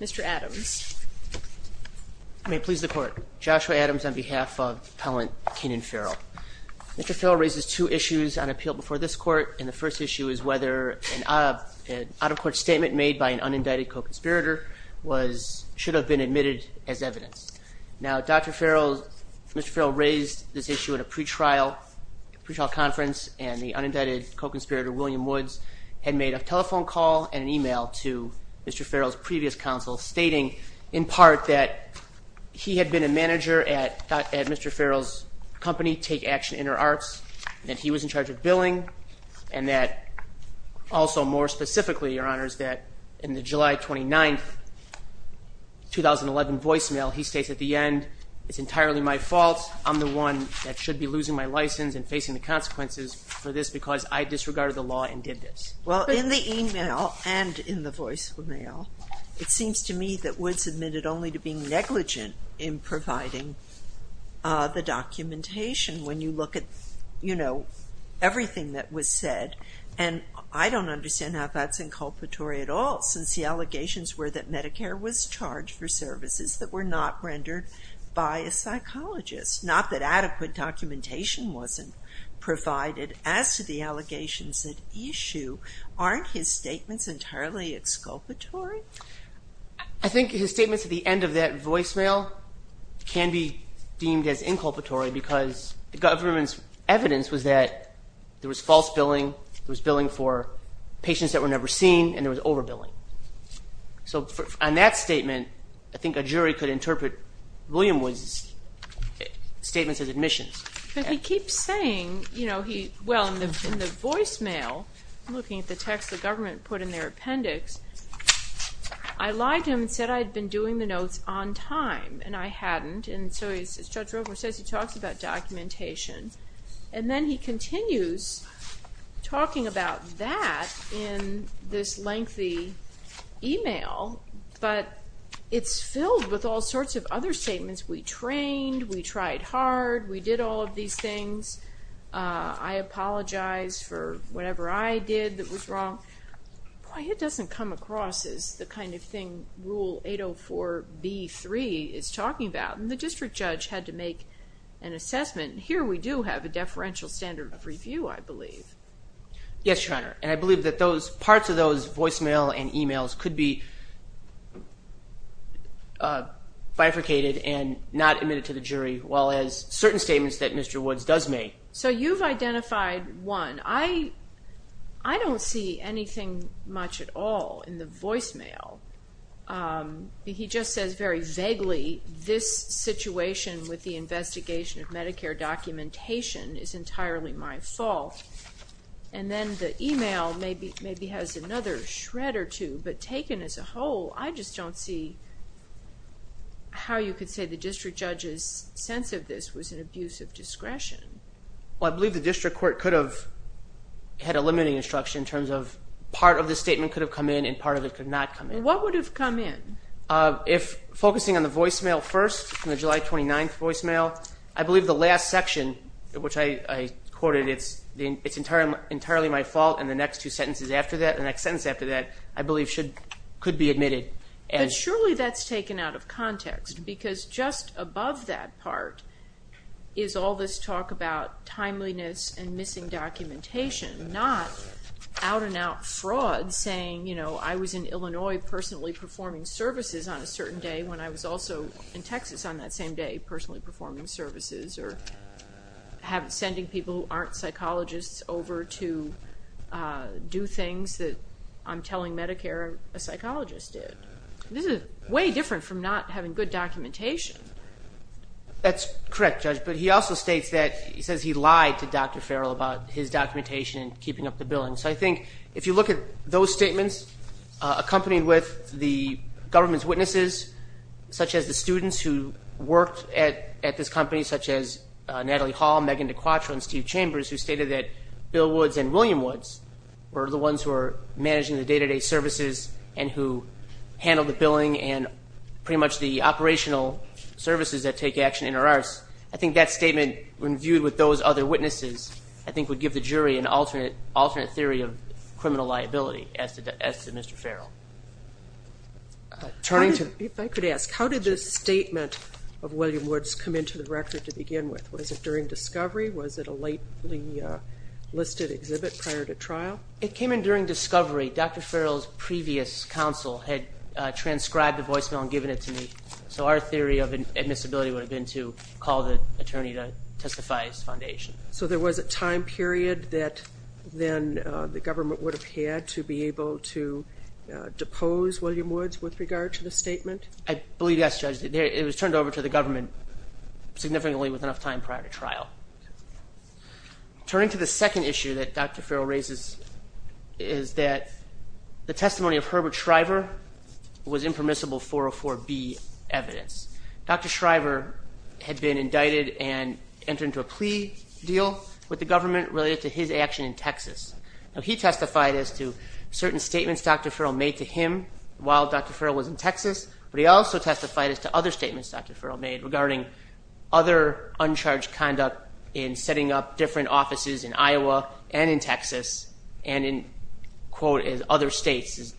Mr. Adams. I may please the court. Joshua Adams on behalf of appellant Keenan Ferrell. Mr. Ferrell raises two issues on appeal before this court and the first issue is whether an out-of-court statement made by an unindicted co-conspirator should have been admitted as evidence. Now Dr. Ferrell, Mr. Ferrell raised this issue at a pretrial conference and the unindicted co-conspirator William Woods had made a telephone call and an email to Mr. Ferrell's previous counsel stating in part that he had been a manager at Mr. Ferrell's company Take Action InterArts and that he was in charge of billing and that also more specifically your honors that in the July 29th 2011 voicemail he states at the end it's entirely my fault I'm the one that should be losing my license and facing the consequences for this because I disregarded the law and did this. Well in the email and in the voicemail it seems to me that Woods admitted only to being negligent in providing the documentation when you look at you know everything that was said and I don't understand how that's inculpatory at all since the allegations were that Medicare was charged for services that were not rendered by a psychologist not that adequate documentation wasn't provided as to the allegations that issue aren't his statements entirely exculpatory? I think his statements at the end of that voicemail can be deemed as inculpatory because the government's evidence was that there was false billing, there was billing for patients that were never seen, and there was over billing. So on that statement I think a admissions. But he keeps saying you know he well in the voicemail looking at the text the government put in their appendix I lied to him and said I had been doing the notes on time and I hadn't and so as Judge Roper says he talks about documentation and then he continues talking about that in this lengthy email but it's filled with all sorts of other statements we trained we tried hard we did all of these things I apologize for whatever I did that was wrong. Boy it doesn't come across as the kind of thing rule 804 b3 is talking about and the district judge had to make an assessment here we do have a deferential standard of review I believe. Yes your honor and I believe that those parts of those voicemail and emails could be bifurcated and not admitted to the jury well as certain statements that Mr. Woods does make. So you've identified one I I don't see anything much at all in the voicemail he just says very vaguely this situation with the investigation of Medicare documentation is entirely my fault and then the email maybe maybe has another shred or two but taken as a whole I just don't see how you could say the district judge's sense of this was an abuse of discretion. Well I believe the district court could have had a limiting instruction in terms of part of the statement could have come in and part of it could not come in. What would have come in? If focusing on the voicemail first in the July 29th voicemail I believe the last section which I quoted it's the it's entirely entirely my fault and the next two sentences after that the next sentence after that I believe should could be admitted. And surely that's taken out of context because just above that part is all this talk about timeliness and missing documentation not out-and-out fraud saying you know I was in Illinois personally performing services on a certain day when I was also in Texas on that same day personally performing services or have sending people who aren't psychologists over to do things that I'm telling Medicare a psychologist did. This is way different from not having good documentation. That's correct judge but he also states that he says he lied to Dr. Farrell about his documentation and keeping up the billing. So I think if you look at those statements accompanied with the government's witnesses such as the students who worked at at this company such as Natalie Hall, Megan De Quatro and Steve Chambers who stated that Bill Woods and William Woods were the ones who are managing the day-to-day services and who handled the billing and pretty much the operational services that take action in our arts. I think that statement when viewed with those other witnesses I think would give the jury an alternate alternate theory of criminal liability as to Mr. Farrell. Turning to if I could ask how did this statement of William Woods come into the record to begin with? Was it during discovery? Was it a lately listed exhibit prior to trial? It came in during discovery. Dr. Farrell's previous counsel had transcribed the voicemail and given it to me. So our theory of admissibility would have been to call the attorney to testify as foundation. So there was a time period that then the government would have had to be able to depose William Woods with regard to the statement? I believe yes judge. It was turned over to the government significantly with enough time prior to trial. Turning to the second issue that Dr. Farrell raises is that the testimony of Herbert Shriver was impermissible 404B evidence. Dr. Shriver had been indicted and entered into a plea deal with the government related to his action in Texas. Now he testified as to certain statements Dr. Farrell made to him while Dr. Farrell was in Texas but he also testified as to other statements Dr. Farrell made regarding other in Texas and in quote as other states.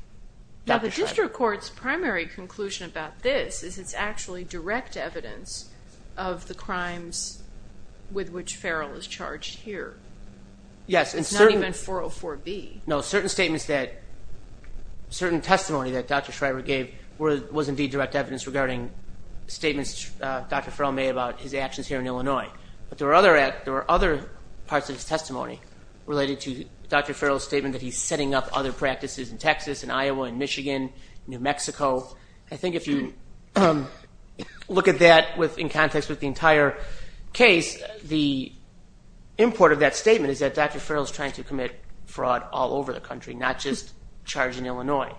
Now the district court's primary conclusion about this is it's actually direct evidence of the crimes with which Farrell is charged here. Yes. It's not even 404B. No certain statements that certain testimony that Dr. Shriver gave was indeed direct evidence regarding statements Dr. Farrell made about his actions here in Illinois. But there were other parts of his testimony related to Dr. Farrell's statement that he's setting up other practices in Texas and Iowa and Michigan, New Mexico. I think if you look at that in context with the entire case the import of that statement is that Dr. Farrell is trying to commit fraud all over the country not just charge in Illinois.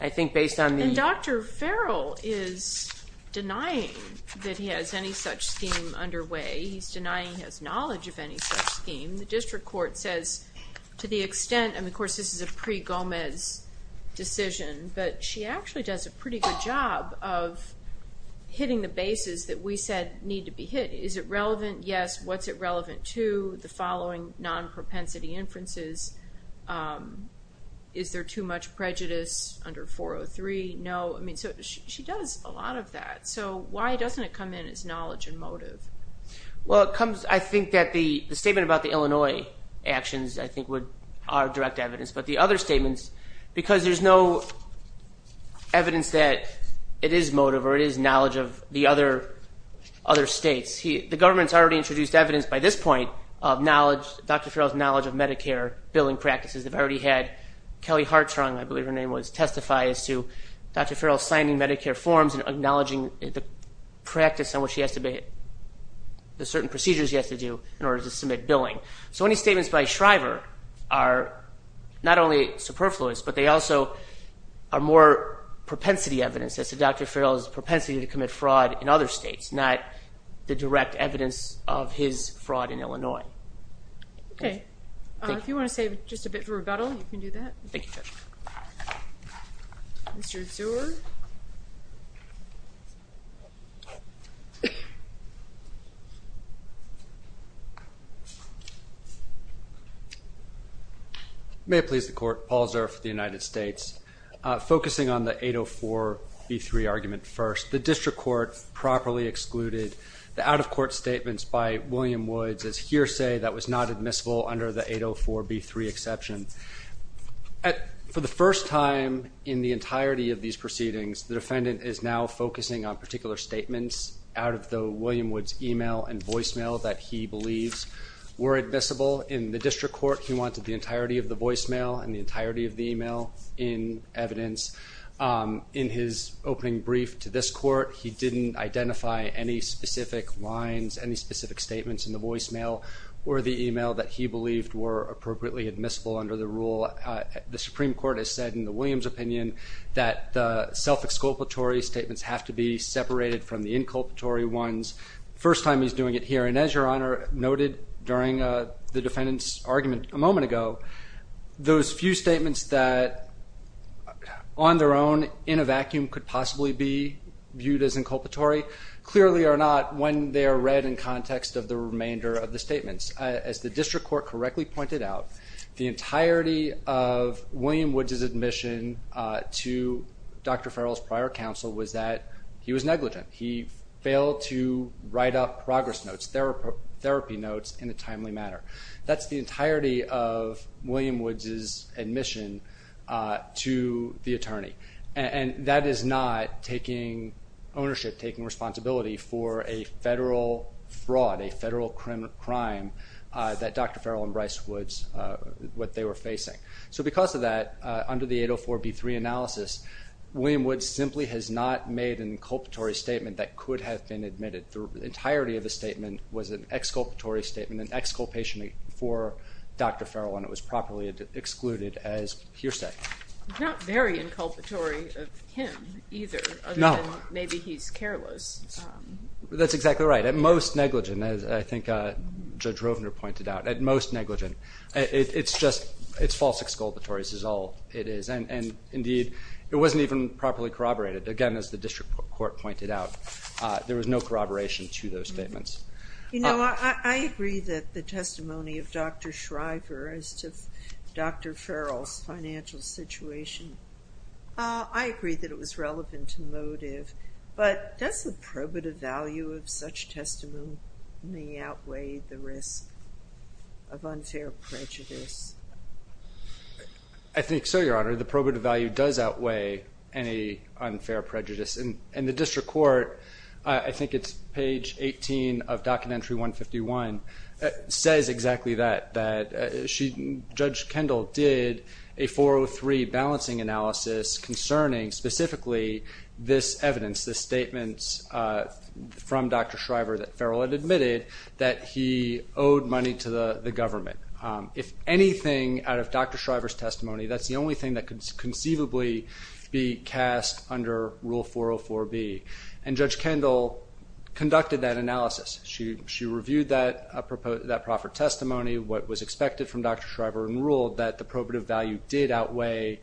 I think based on the... And Dr. Farrell is denying that he has any such scheme underway. He's denying his knowledge of any such scheme. The district court says to the extent and of course this is a pre-Gomez decision but she actually does a pretty good job of hitting the bases that we said need to be hit. Is it relevant? Yes. What's it relevant to? The following non-propensity inferences. Is there too much prejudice under 403? No. I mean so she does a lot of that. So why doesn't it come in as knowledge and motive? Well it comes I think that the statement about the Illinois actions I think would are direct evidence but the other statements because there's no evidence that it is motive or it is knowledge of the other states. The government's already introduced evidence by this point of knowledge Dr. Farrell's knowledge of Medicare billing practices. They've already had Kelly Hartrung I Medicare forms and acknowledging the practice on what she has to be the certain procedures he has to do in order to submit billing. So any statements by Shriver are not only superfluous but they also are more propensity evidence as to Dr. Farrell's propensity to commit fraud in other states not the direct evidence of his fraud in Illinois. Okay if you want to save just a bit for the end. May it please the court. Paul Zurf for the United States. Focusing on the 804 B3 argument first. The district court properly excluded the out-of-court statements by William Woods as hearsay that was not admissible under the 804 B3 exception. For the first time in the entirety of these proceedings the defendant is now focusing on particular statements out of the William Woods email and voicemail that he believes were admissible. In the district court he wanted the entirety of the voicemail and the entirety of the email in evidence. In his opening brief to this court he didn't identify any specific lines any specific statements in the voicemail or the email that he believed were appropriately admissible under the rule. The Supreme Court has said in the Williams opinion that the self-exculpatory statements have to be separated from the inculpatory ones. First time he's doing it here and as your honor noted during the defendant's argument a moment ago those few statements that on their own in a vacuum could possibly be viewed as inculpatory clearly are not when they are read in context of the remainder of the entirety of William Woods' admission to Dr. Farrell's prior counsel was that he was negligent. He failed to write up progress notes, therapy notes in a timely manner. That's the entirety of William Woods' admission to the attorney and that is not taking ownership, taking responsibility for a federal fraud, a what they were facing. So because of that under the 804 b3 analysis William Woods simply has not made an inculpatory statement that could have been admitted through the entirety of the statement was an exculpatory statement an exculpation for Dr. Farrell and it was properly excluded as hearsay. Not very inculpatory of him either. No. Maybe he's careless. That's exactly right at most it's just it's false exculpatory is all it is and and indeed it wasn't even properly corroborated again as the district court pointed out there was no corroboration to those statements. You know I agree that the testimony of Dr. Shriver as to Dr. Farrell's financial situation I agree that it was relevant to motive but does the probative value of such testimony may outweigh the risk of unfair prejudice? I think so your honor the probative value does outweigh any unfair prejudice and and the district court I think it's page 18 of documentary 151 says exactly that that she Judge Kendall did a 403 balancing analysis concerning specifically this evidence the statements from Dr. Shriver that Farrell had admitted that he owed money to the government. If anything out of Dr. Shriver's testimony that's the only thing that could conceivably be cast under rule 404 B and Judge Kendall conducted that analysis. She she reviewed that a proposed that proffer testimony what was expected from Dr. Shriver and ruled that the probative value did outweigh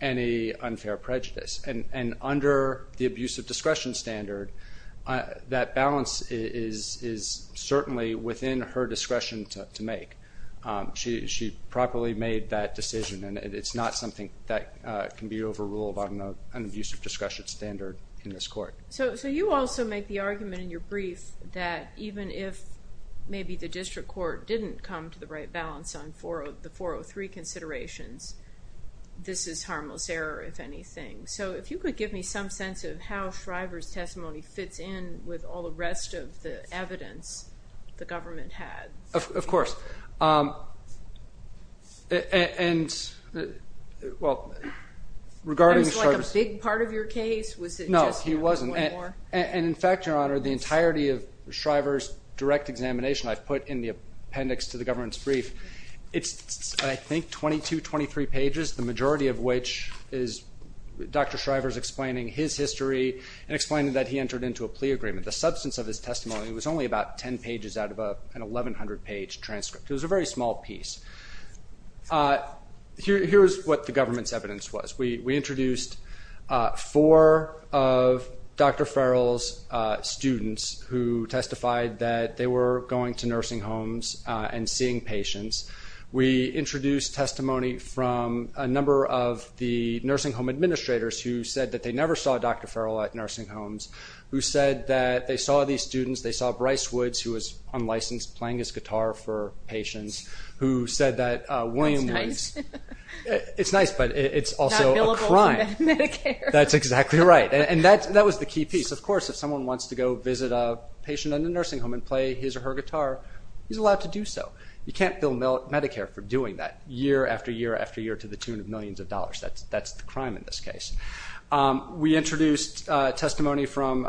any unfair prejudice and and under the abuse of discretion standard that balance is is certainly within her discretion to make. She properly made that decision and it's not something that can be overruled by an abuse of discretion standard in this court. So so you also make the argument in your brief that even if maybe the district court didn't come to the right balance on for the 403 considerations this is some sense of how Shriver's testimony fits in with all the rest of the evidence the government had. Of course and well regarding a big part of your case was it no he wasn't and in fact your honor the entirety of Shriver's direct examination I've put in the appendix to the government's brief it's I think 22-23 pages the majority of which is Dr. Shriver's explaining his history and explained that he entered into a plea agreement. The substance of his testimony was only about 10 pages out of an 1100 page transcript. It was a very small piece. Here's what the government's evidence was. We we introduced four of Dr. Farrell's students who testified that they were going to introduce testimony from a number of the nursing home administrators who said that they never saw Dr. Farrell at nursing homes who said that they saw these students they saw Bryce Woods who was unlicensed playing his guitar for patients who said that Williams it's nice but it's also a crime. That's exactly right and that that was the key piece of course if someone wants to go visit a patient in the nursing home and play his or her guitar he's allowed to year after year after year to the tune of millions of dollars that's that's the crime in this case. We introduced testimony from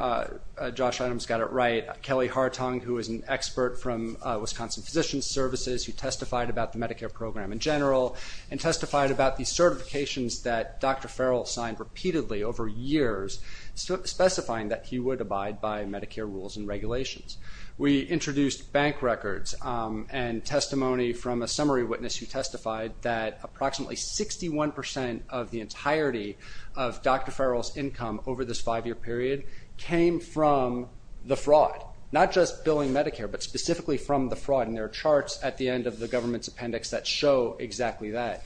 Josh Adams got it right Kelly Hartung who is an expert from Wisconsin Physician Services who testified about the Medicare program in general and testified about these certifications that Dr. Farrell signed repeatedly over years specifying that he would abide by Medicare rules and regulations. We introduced bank records and testimony from a summary witness who testified that approximately 61% of the entirety of Dr. Farrell's income over this five-year period came from the fraud not just billing Medicare but specifically from the fraud and there are charts at the end of the government's appendix that show exactly that.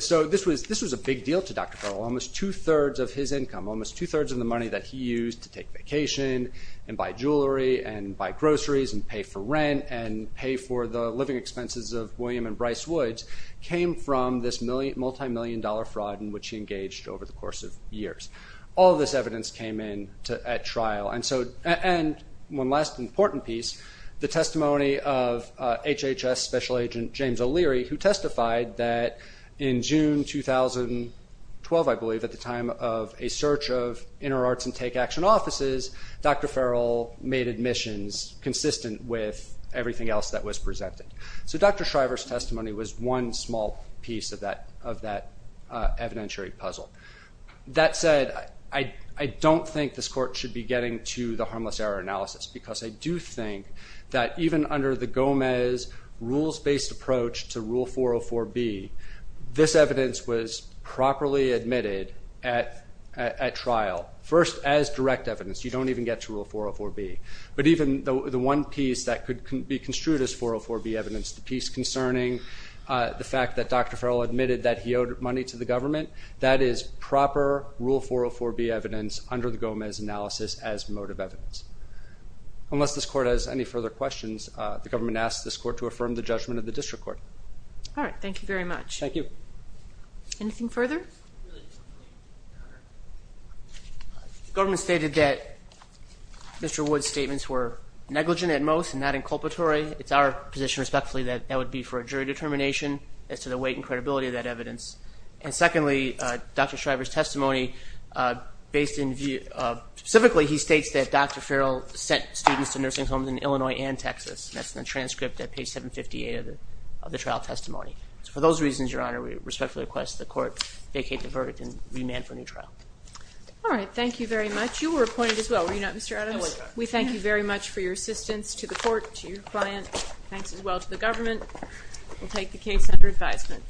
So this was this was a big deal to Dr. Farrell almost two-thirds of his income almost two-thirds of the money that he used to take vacation and buy for the living expenses of William and Bryce Woods came from this multi-million dollar fraud in which he engaged over the course of years. All of this evidence came in at trial and so and one last important piece the testimony of HHS Special Agent James O'Leary who testified that in June 2012 I believe at the time of a search of inner arts and take action offices Dr. Farrell made admissions consistent with everything else that was presented. So Dr. Shriver's testimony was one small piece of that of that evidentiary puzzle. That said I don't think this court should be getting to the harmless error analysis because I do think that even under the Gomez rules-based approach to Rule 404 B this evidence was properly admitted at trial first as direct evidence. You don't even get to Rule 404 B but even though the one piece that could be construed as 404 B evidence the piece concerning the fact that Dr. Farrell admitted that he owed money to the government that is proper Rule 404 B evidence under the Gomez analysis as motive evidence. Unless this court has any further questions the government asks this court to affirm the judgment of the district court. All right thank you very much. Thank you. Anything further? The government stated that Mr. Wood's statements were negligent at most and not inculpatory. It's our position respectfully that that would be for a jury determination as to the weight and credibility of that evidence and secondly Dr. Shriver's testimony based in view of specifically he states that Dr. Farrell sent students to nursing homes in Illinois and Texas. That's the transcript at page 758 of the trial testimony. So for those reasons your honor we respectfully request the court vacate the verdict and remand for a new trial. All right thank you very much. You were appointed as well were you not Mr. Adams? I was. We thank you very much for your assistance to the court, to your client. Thanks as well to the government. We'll take the case under advisement.